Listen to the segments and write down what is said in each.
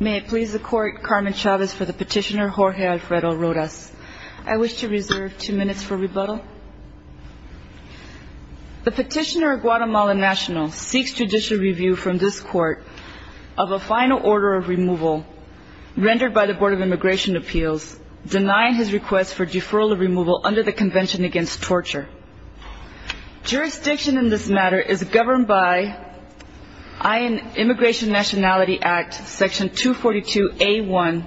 May it please the Court, Carmen Chavez for the petitioner Jorge Alfredo Rodas. I wish to reserve two minutes for rebuttal. The petitioner of Guatemala National seeks judicial review from this Court of a final order of removal rendered by the Board of Immigration Appeals denying his request for deferral of removal under the Convention Against Torture. Jurisdiction in this matter is governed by I.N. Immigration Nationality Act, Section 242A1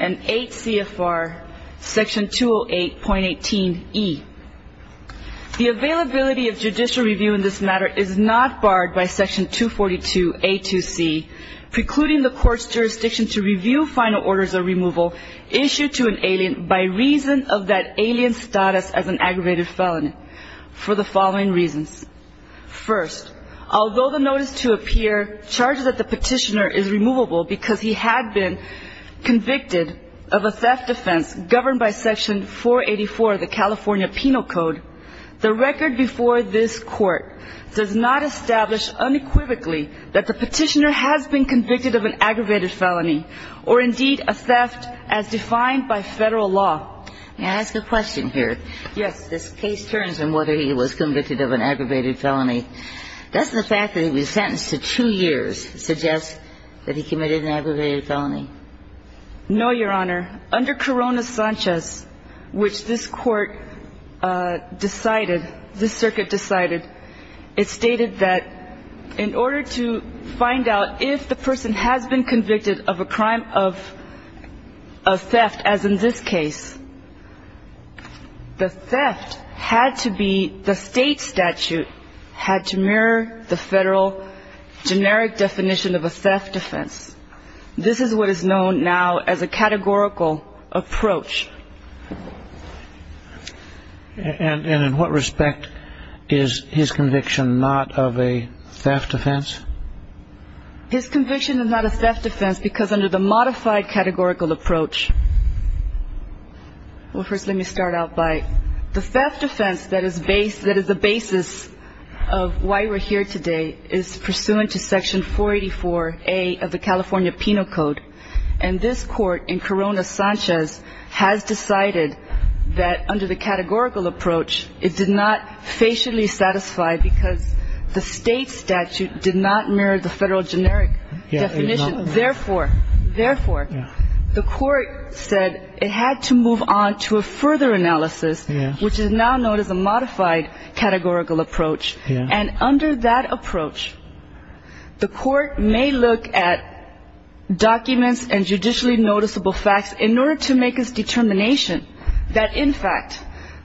and 8 CFR, Section 208.18e. The availability of judicial review in this matter is not barred by Section 242A2C precluding the Court's jurisdiction to review final orders of removal issued to an alien by reason of that alien's status as an aggravated felony for the following reasons. First, although the notice to appear charges that the petitioner is removable because he had been convicted of a theft offense governed by Section 484 of the California Penal Code the record before this Court does not establish unequivocally that the petitioner has been convicted of an aggravated felony or indeed a theft as defined by Federal law. May I ask a question here? Yes. This case turns on whether he was convicted of an aggravated felony. Does the fact that he was sentenced to two years suggest that he committed an aggravated felony? No, Your Honor. Under Corona Sanchez, which this Court decided, this circuit decided, it stated that in order to find out if the person has been convicted of a crime of theft as in this case, the theft had to be, the state statute had to mirror the Federal generic definition of a theft offense. This is what is known now as a categorical approach. And in what respect is his conviction not of a theft offense? His conviction is not a theft offense because under the modified categorical approach, well first let me start out by, the theft offense that is the basis of why we're here today is pursuant to Section 484A of the California Penal Code and this Court in Corona Sanchez has decided that under the categorical approach, it did not facially satisfy because the state statute did not mirror the Federal generic definition. Therefore, therefore, the Court said it had to move on to a further analysis, which is now known as a modified categorical approach. And under that in order to make his determination that in fact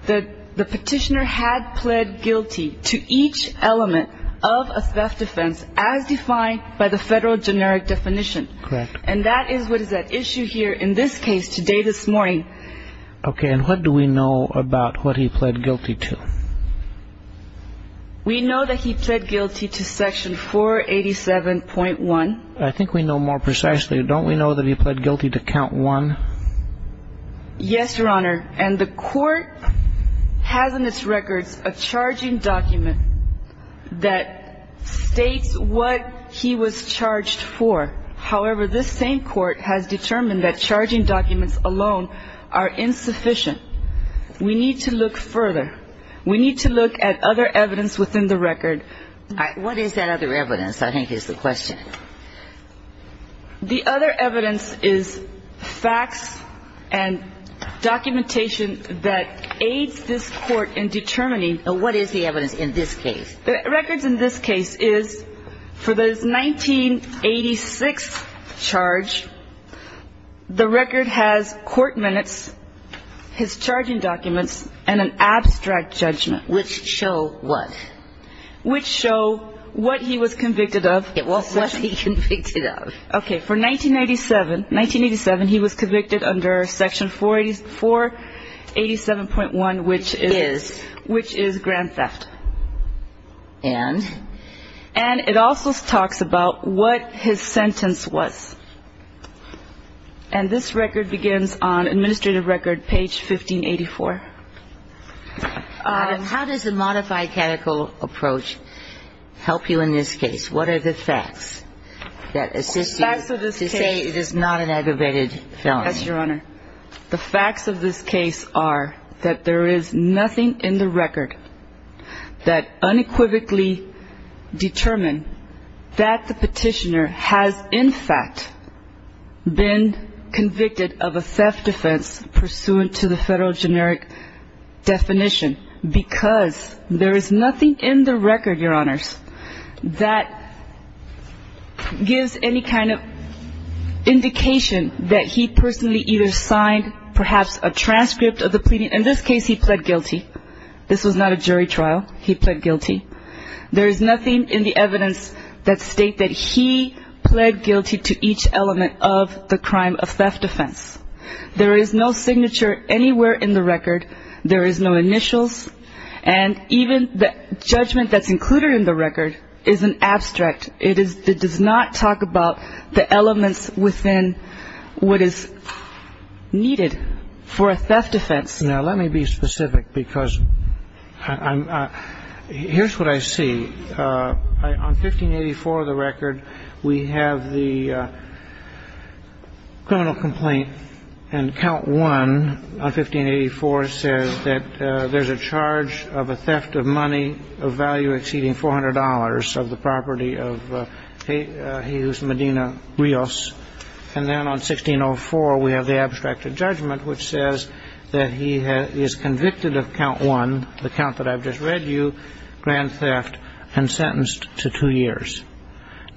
the petitioner had pled guilty to each element of a theft offense as defined by the Federal generic definition. And that is what is at issue here in this case today, this morning. Okay, and what do we know about what he pled guilty to? We know that he pled guilty to Section 487.1. I think we know more precisely. Don't we know that he pled guilty to Count 1? Yes, Your Honor. And the Court has in its records a charging document that states what he was charged for. However, this same Court has determined that charging documents alone are insufficient. We need to look further. We need to look at other evidence within the record. What is that other evidence I think is the question? The other evidence is facts and documentation that aids this Court in determining. What is the evidence in this case? The records in this case is for this Court minutes, his charging documents, and an abstract judgment. Which show what? Which show what he was convicted of. What was he convicted of? Okay, for 1987, he was convicted under Section 487.1, which is grand theft. And? And it also talks about what his sentence was. And this record begins on administrative record page 1584. How does the modified catechol approach help you in this case? What are the facts that assist you to say it is not an aggravated felony? The facts of this case are that there is nothing in the record that unequivocally determined that the petitioner has in fact been convicted of a theft defense pursuant to the federal generic definition because there is nothing in the record, Your Honors, that gives any kind of indication that he personally either signed perhaps a transcript of the pleading. In this case, he pled guilty. This was not a jury trial. He pled guilty. There is nothing in the evidence that state that he pled guilty to each element of the crime of theft defense. There is no signature anywhere in the record. There is no initials. And even the judgment that's included in the record is an abstract. It does not talk about the elements within what is needed for a theft defense. Now, let me be specific because here's what I see. On 1584 of the record, we have the criminal complaint and count one on 1584 says that there's a charge of a theft of money of value exceeding $400 of the property of Medina Rios. And then on 1604, we have the abstract judgment which says that he is convicted of count one, the count that I've just read you, grand theft, and sentenced to two years.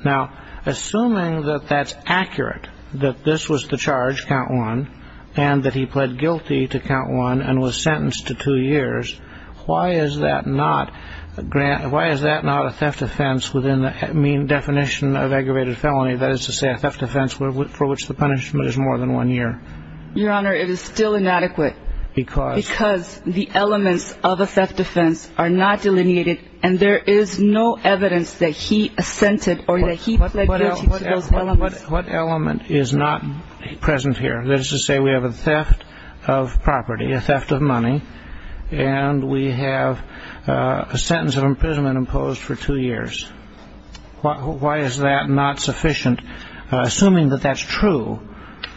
Now, assuming that that's accurate, that this was the charge, count one, and that he pled guilty to count one and was sentenced to two years, why is that not a theft defense within the mean definition of aggravated felony? That is to say, a theft defense for which the punishment is more than one year. Your Honor, it is still inadequate because the elements of a theft defense are not delineated and there is no evidence that he assented or that he pled guilty to those elements. What element is not present here? That is to say, we have a theft of property, a theft of money, and we have a sentence of imprisonment imposed for two years. Why is that not sufficient? Assuming that that's true,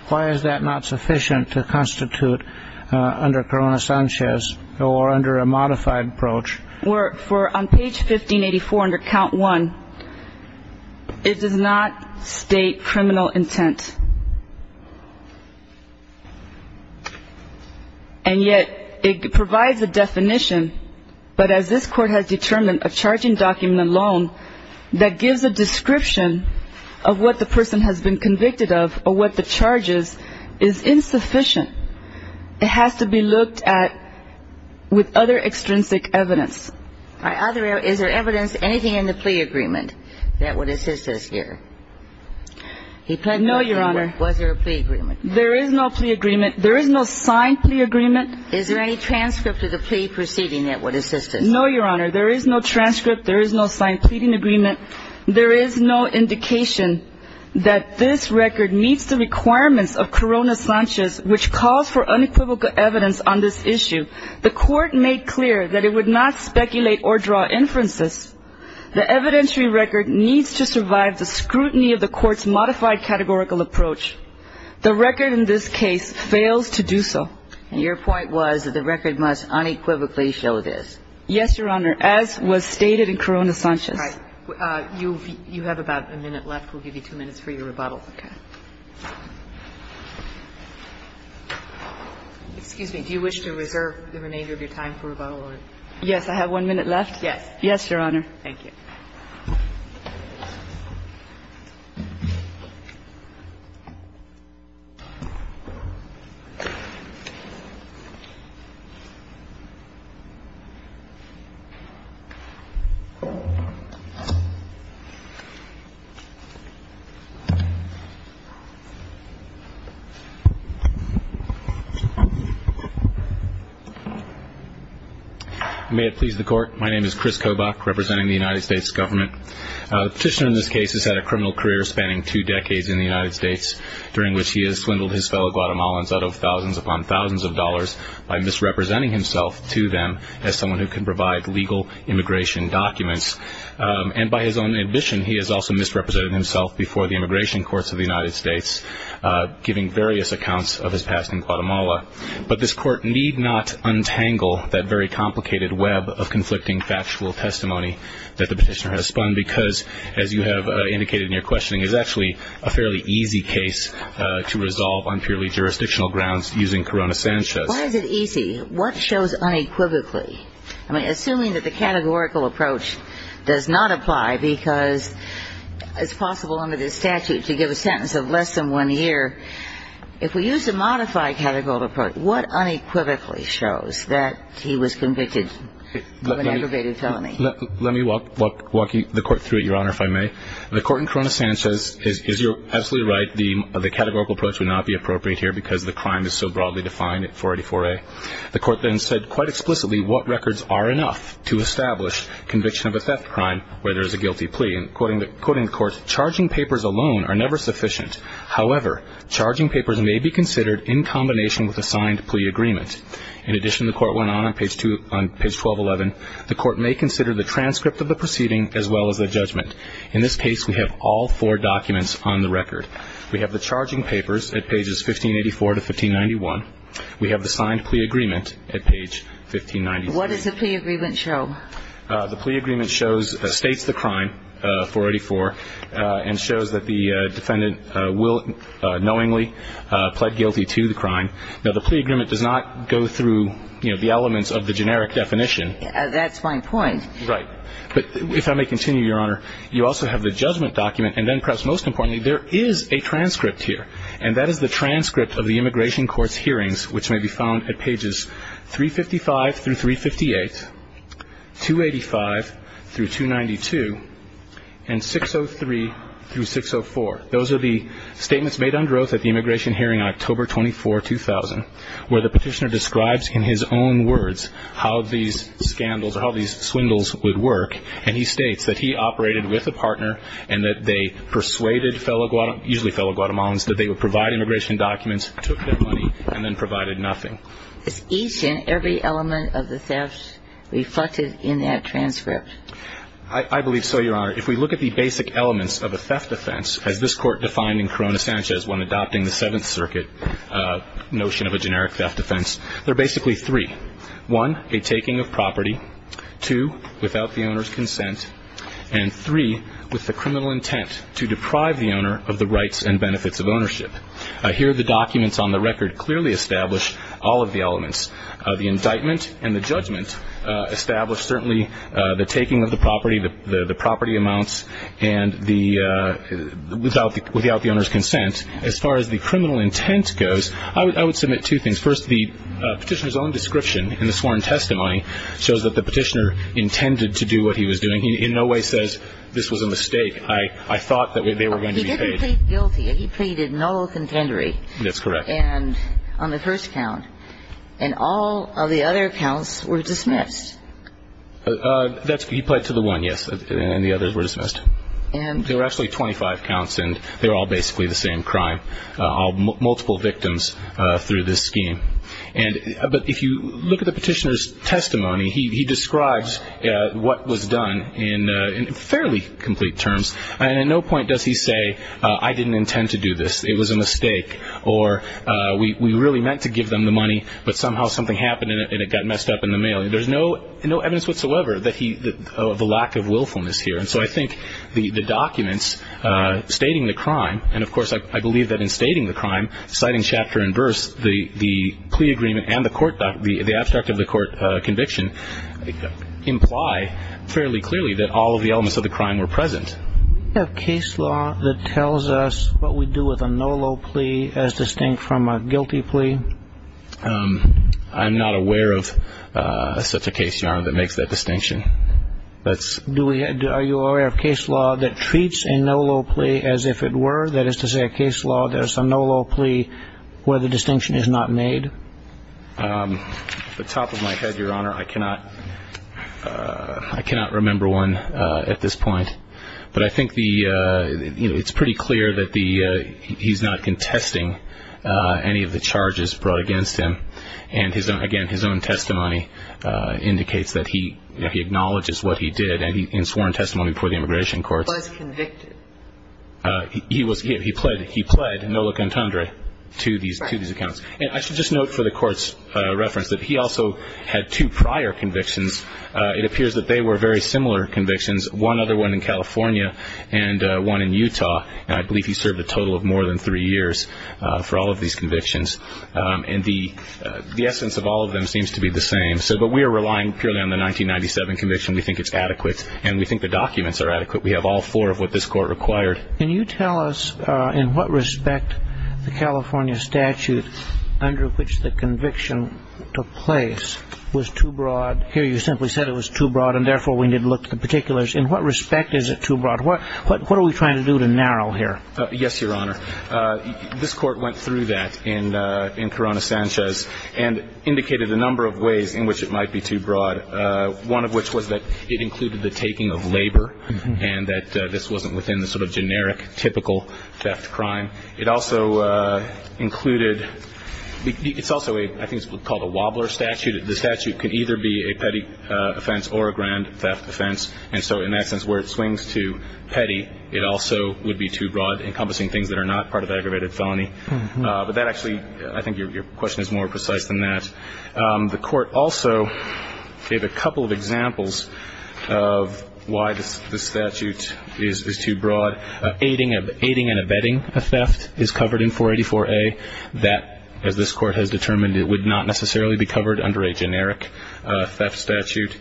why is that not sufficient to constitute under Corona Sanchez or under a modified approach? On page 1584 under count one, it does not state criminal intent. And yet it provides a definition, but as this Court has determined, a charging document alone that gives a description of what the person has been convicted of or what the charge is, is insufficient. It has to be looked at with other extrinsic evidence. Is there evidence, anything in the plea agreement that would assist us here? No, Your Honor. Was there a plea agreement? There is no plea agreement. There is no signed plea agreement. Is there any transcript of the plea proceeding that would assist us? No, Your Honor. There is no transcript. There is no signed pleading agreement. There is no indication that this record meets the requirements of Corona Sanchez, which calls for unequivocal evidence on this issue. The Court made clear that it would not speculate or draw inferences. The evidentiary record needs to survive the scrutiny of the Court's modified categorical approach. The record in this case fails to do so. Your point was that the record must unequivocally show this. Yes, Your Honor, as was stated in Corona Sanchez. All right. You have about a minute left. We'll give you two minutes for your rebuttal. Okay. Excuse me. Do you wish to reserve the remainder of your time for rebuttal? Yes, I have one minute left. Yes. Yes, Your Honor. Thank you. Thank you. May it please the Court. My name is Chris Kobach, representing the United States Government. The petitioner in this case has had a criminal career spanning two decades in the United States, during which he has swindled his fellow Guatemalans out of thousands upon thousands of dollars by misrepresenting himself to them as someone who can provide legal immigration documents. And by his own admission, he has also misrepresented himself before the immigration courts of the United States, giving various accounts of his past in Guatemala. But this Court need not untangle that very complicated web of conflicting factual testimony that the petitioner has spun, because, as you have indicated in your questioning, it's actually a fairly easy case to resolve on purely jurisdictional grounds using Corona Sanchez. Why is it easy? What shows unequivocally? I mean, assuming that the categorical approach does not apply, because it's possible under this statute to give a sentence of less than one year, if we use a modified categorical approach, what unequivocally shows that he was convicted of an aggravated felony? Let me walk the Court through it, Your Honor, if I may. The Court in Corona Sanchez is absolutely right. The categorical approach would not be appropriate here because the crime is so broadly defined at 484A. The Court then said quite explicitly what records are enough to establish conviction of a theft crime where there is a guilty plea. And quoting the Court, charging papers alone are never sufficient. However, charging papers may be considered in combination with a signed plea agreement. In addition, the Court went on on page 1211, the Court may consider the transcript of the proceeding as well as the judgment. In this case, we have all four documents on the record. We have the charging papers at pages 1584 to 1591. We have the signed plea agreement at page 1596. What does the plea agreement show? The plea agreement shows, states the crime, 484, and shows that the defendant will knowingly plead guilty to the crime. Now, the plea agreement does not go through, you know, the elements of the generic definition. That's my point. Right. But if I may continue, Your Honor, you also have the judgment document. And then, perhaps most importantly, there is a transcript here, and that is the transcript of the immigration court's hearings, which may be found at pages 355 through 358, 285 through 292, and 603 through 604. Those are the statements made on growth at the immigration hearing on October 24, 2000, where the petitioner describes in his own words how these scandals or how these swindles would work. And he states that he operated with a partner and that they persuaded fellow Guatemalans, that they would provide immigration documents, took their money, and then provided nothing. Is each and every element of the theft reflected in that transcript? I believe so, Your Honor. If we look at the basic elements of a theft offense, as this Court defined in Corona Sanchez when adopting the Seventh Circuit notion of a generic theft offense, there are basically three. One, a taking of property. Two, without the owner's consent. And three, with the criminal intent to deprive the owner of the rights and benefits of ownership. Here, the documents on the record clearly establish all of the elements. The indictment and the judgment establish, certainly, the taking of the property, the property amounts, and without the owner's consent. As far as the criminal intent goes, I would submit two things. First, the petitioner's own description in the sworn testimony shows that the petitioner intended to do what he was doing. He in no way says, this was a mistake. I thought that they were going to be paid. He didn't plead guilty. He pleaded no contendery. That's correct. On the first count. And all of the other counts were dismissed. He pled to the one, yes, and the others were dismissed. There were actually 25 counts, and they were all basically the same crime, multiple victims through this scheme. But if you look at the petitioner's testimony, he describes what was done in fairly complete terms, and at no point does he say, I didn't intend to do this, it was a mistake, or we really meant to give them the money, but somehow something happened and it got messed up in the mail. There's no evidence whatsoever of the lack of willfulness here. And so I think the documents stating the crime, and, of course, I believe that in stating the crime, citing chapter and verse, the plea agreement and the abstract of the court conviction imply fairly clearly that all of the elements of the crime were present. Do we have case law that tells us what we do with a no-low plea as distinct from a guilty plea? I'm not aware of such a case, Your Honor, that makes that distinction. Are you aware of case law that treats a no-low plea as if it were, that is to say a case law, there's a no-low plea where the distinction is not made? Off the top of my head, Your Honor, I cannot remember one at this point. But I think it's pretty clear that he's not contesting any of the charges brought against him. And, again, his own testimony indicates that he acknowledges what he did in sworn testimony before the immigration courts. He was convicted. He played no look and tundra to these accounts. And I should just note for the Court's reference that he also had two prior convictions. It appears that they were very similar convictions, one other one in California and one in Utah. And I believe he served a total of more than three years for all of these convictions. And the essence of all of them seems to be the same. But we are relying purely on the 1997 conviction. And we think the documents are adequate. We have all four of what this Court required. Can you tell us in what respect the California statute under which the conviction took place was too broad? Here you simply said it was too broad, and therefore we need to look at the particulars. In what respect is it too broad? What are we trying to do to narrow here? Yes, Your Honor. This Court went through that in Corona-Sanchez and indicated a number of ways in which it might be too broad, one of which was that it included the taking of labor and that this wasn't within the sort of generic, typical theft crime. It also included – it's also, I think, called a wobbler statute. The statute can either be a petty offense or a grand theft offense. And so in that sense, where it swings to petty, it also would be too broad, encompassing things that are not part of the aggravated felony. But that actually – I think your question is more precise than that. The Court also gave a couple of examples of why the statute is too broad. Aiding and abetting a theft is covered in 484A. That, as this Court has determined, would not necessarily be covered under a generic theft statute.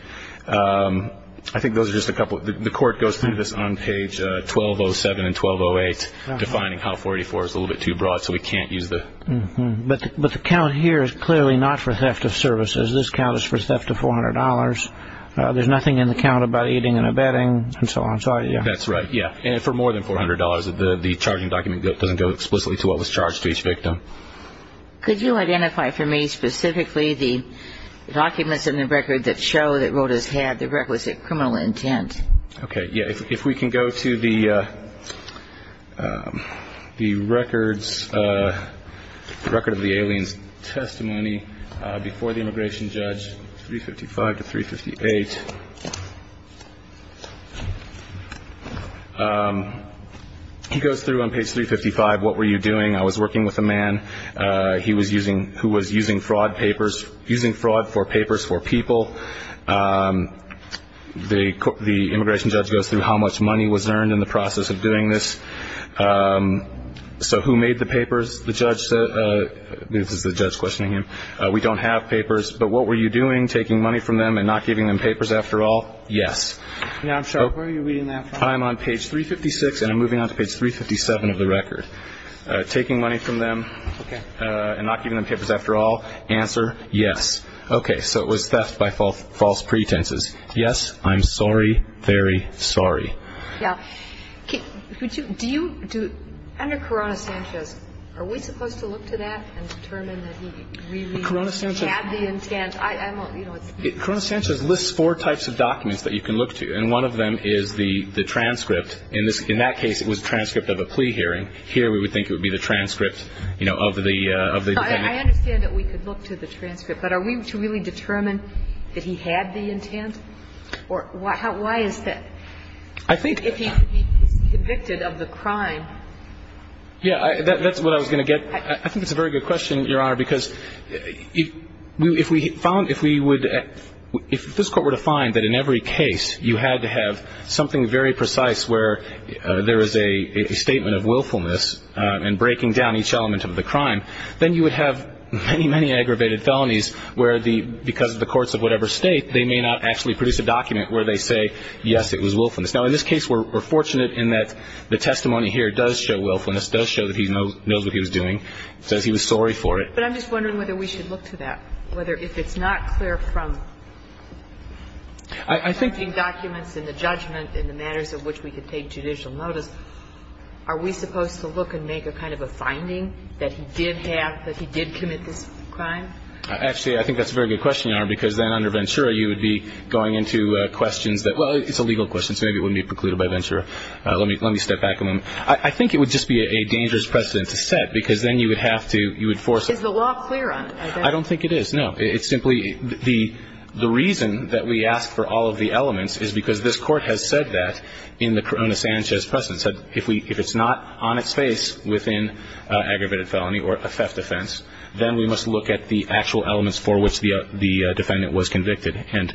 I think those are just a couple – the Court goes through this on page 1207 and 1208, defining how 484 is a little bit too broad, so we can't use the – But the count here is clearly not for theft of services. This count is for theft of $400. There's nothing in the count about aiding and abetting and so on. That's right, yeah. And for more than $400, the charging document doesn't go explicitly to what was charged to each victim. Could you identify for me specifically the documents in the record that show that Rodas had the requisite criminal intent? Okay, yeah. If we can go to the records – the record of the alien's testimony before the immigration judge, 355 to 358. He goes through on page 355 what were you doing. I was working with a man who was using fraud papers – using fraud for papers for people. The immigration judge goes through how much money was earned in the process of doing this. So who made the papers? The judge – this is the judge questioning him. We don't have papers, but what were you doing? Taking money from them and not giving them papers after all? Yes. Yeah, I'm sorry, where are you reading that from? I'm on page 356 and I'm moving on to page 357 of the record. Taking money from them and not giving them papers after all? Answer, yes. Okay, so it was theft by false pretenses. Yes, I'm sorry, very sorry. Yeah. Do you – under Corona-Sanchez, are we supposed to look to that and determine that he really had the intent? Corona-Sanchez lists four types of documents that you can look to, and one of them is the transcript. In that case, it was a transcript of a plea hearing. Here we would think it would be the transcript of the – No, I understand that we could look to the transcript, but are we to really determine that he had the intent? Or why is that? I think – If he's convicted of the crime. Yeah, that's what I was going to get. I think it's a very good question, Your Honor, because if we found – if we would – if this Court were to find that in every case you had to have something very precise where there is a statement of willfulness and breaking down each element of the crime, then you would have many, many aggravated felonies where the – because of the courts of whatever State, they may not actually produce a document where they say, yes, it was willfulness. Now, in this case, we're fortunate in that the testimony here does show willfulness, does show that he knows what he was doing, says he was sorry for it. But I'm just wondering whether we should look to that, whether if it's not clear from – I think – that he did have – that he did commit this crime? Actually, I think that's a very good question, Your Honor, because then under Ventura, you would be going into questions that – well, it's a legal question, so maybe it wouldn't be precluded by Ventura. Let me step back a moment. I think it would just be a dangerous precedent to set because then you would have to – you would force – Is the law clear on it? I don't think it is, no. It's simply – the reason that we ask for all of the elements is because this Court has said that in the Corona-Sanchez precedent, it said if it's not on its face within aggravated felony or a theft offense, then we must look at the actual elements for which the defendant was convicted. And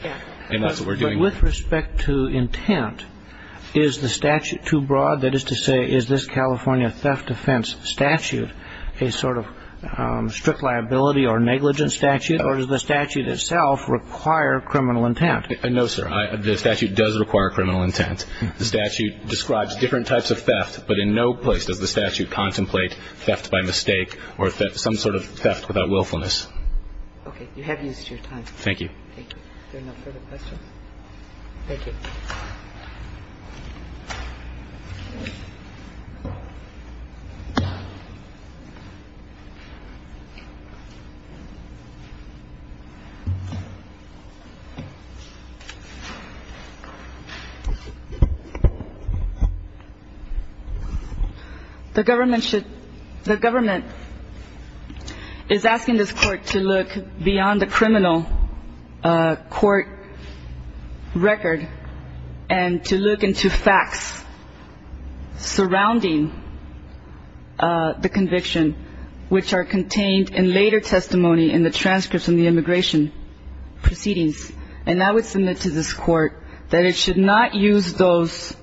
that's what we're doing. But with respect to intent, is the statute too broad? That is to say, is this California theft offense statute a sort of strict liability or negligence statute, or does the statute itself require criminal intent? No, sir. The statute does require criminal intent. The statute describes different types of theft, but in no place does the statute contemplate theft by mistake or some sort of theft without willfulness. Okay. You have used your time. Thank you. Thank you. Are there no further questions? Thank you. The government should – the government is asking this Court to look beyond the criminal court record and to look into facts surrounding the conviction, which are contained in later testimony in the transcripts in the immigration proceedings. And I would submit to this Court that it should not use those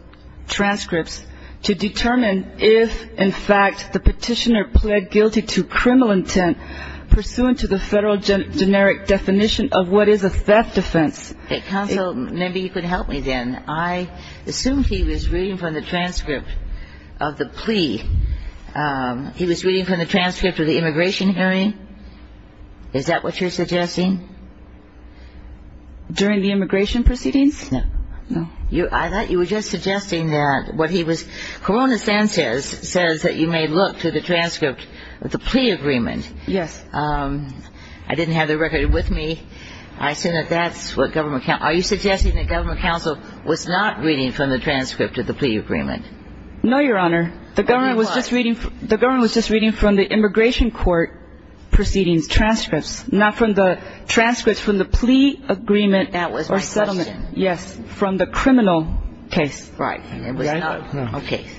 transcripts to determine if, in fact, the Petitioner pled guilty to criminal intent pursuant to the Federal generic definition of what is a theft offense. Counsel, maybe you could help me then. I assume he was reading from the transcript of the plea. He was reading from the transcript of the immigration hearing. Is that what you're suggesting? During the immigration proceedings? No. No. I thought you were just suggesting that what he was – Corona Sanchez says that you may look to the transcript of the plea agreement. Yes. I didn't have the record with me. I assume that that's what government – are you suggesting that government counsel was not reading from the transcript of the plea agreement? No, Your Honor. The government was just reading from the immigration court proceedings transcripts, not from the transcripts from the plea agreement or settlement. That was my question. Yes. From the criminal case. Right. And there was no case.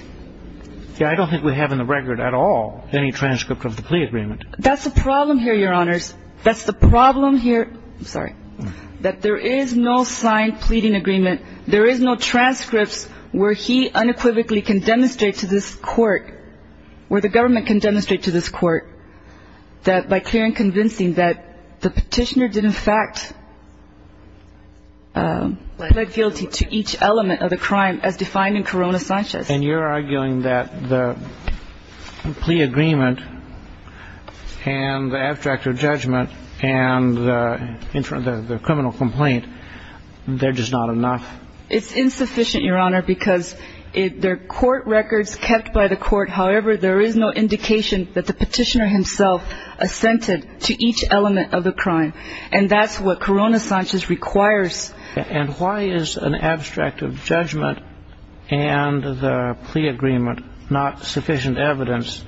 Yeah, I don't think we have in the record at all any transcript of the plea agreement. That's the problem here, Your Honors. That's the problem here – I'm sorry – that there is no signed pleading agreement. There is no transcripts where he unequivocally can demonstrate to this Court, where the government can demonstrate to this Court, that by clear and convincing that the petitioner did, in fact, plead guilty to each element of the crime as defined in Corona Sanchez. And you're arguing that the plea agreement and the abstract of judgment and the criminal complaint, they're just not enough. It's insufficient, Your Honor, because they're court records kept by the court. However, there is no indication that the petitioner himself assented to each element of the crime. And that's what Corona Sanchez requires. And why is an abstract of judgment and the plea agreement not sufficient evidence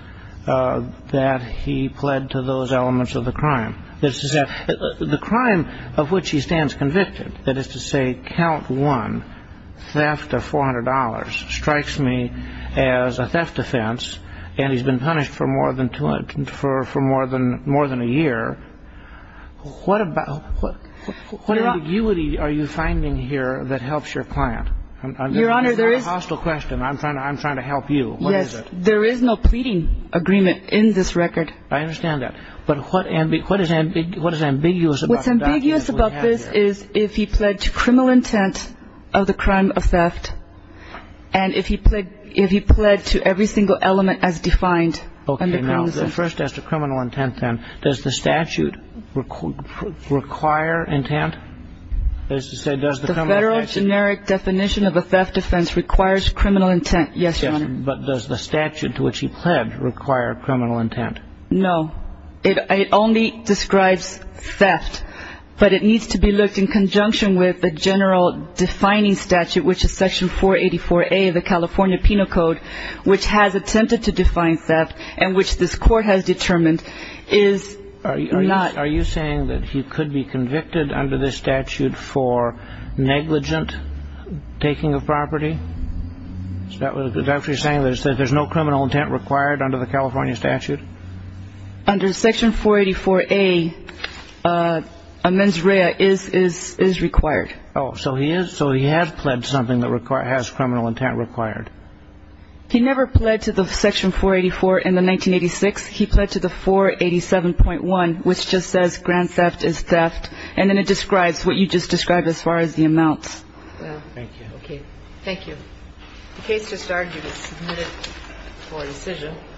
that he pled to those elements of the crime? The crime of which he stands convicted, that is to say, count one, theft of $400 strikes me as a theft offense, and he's been punished for more than a year. What ambiguity are you finding here that helps your client? Your Honor, there is – That's a hostile question. I'm trying to help you. Yes, there is no pleading agreement in this record. I understand that. But what is ambiguous about the document that we have here? What's ambiguous about this is if he pled to criminal intent of the crime of theft and if he pled to every single element as defined under Corona Sanchez. Okay. Now, first as to criminal intent, then, does the statute require intent? That is to say, does the criminal intent – The federal generic definition of a theft offense requires criminal intent, yes, Your Honor. But does the statute to which he pled require criminal intent? No. It only describes theft, but it needs to be looked in conjunction with the general defining statute, which is Section 484A of the California Penal Code, which has attempted to define theft and which this court has determined is not – Are you saying that he could be convicted under this statute for negligent taking of property? Is that what you're saying, that there's no criminal intent required under the California statute? Under Section 484A, amens rea is required. Oh, so he has pled something that has criminal intent required. He never pled to the Section 484 in the 1986. He pled to the 487.1, which just says grand theft is theft, and then it describes what you just described as far as the amounts. Thank you. Okay. Thank you. The case just started. You can submit it for decision.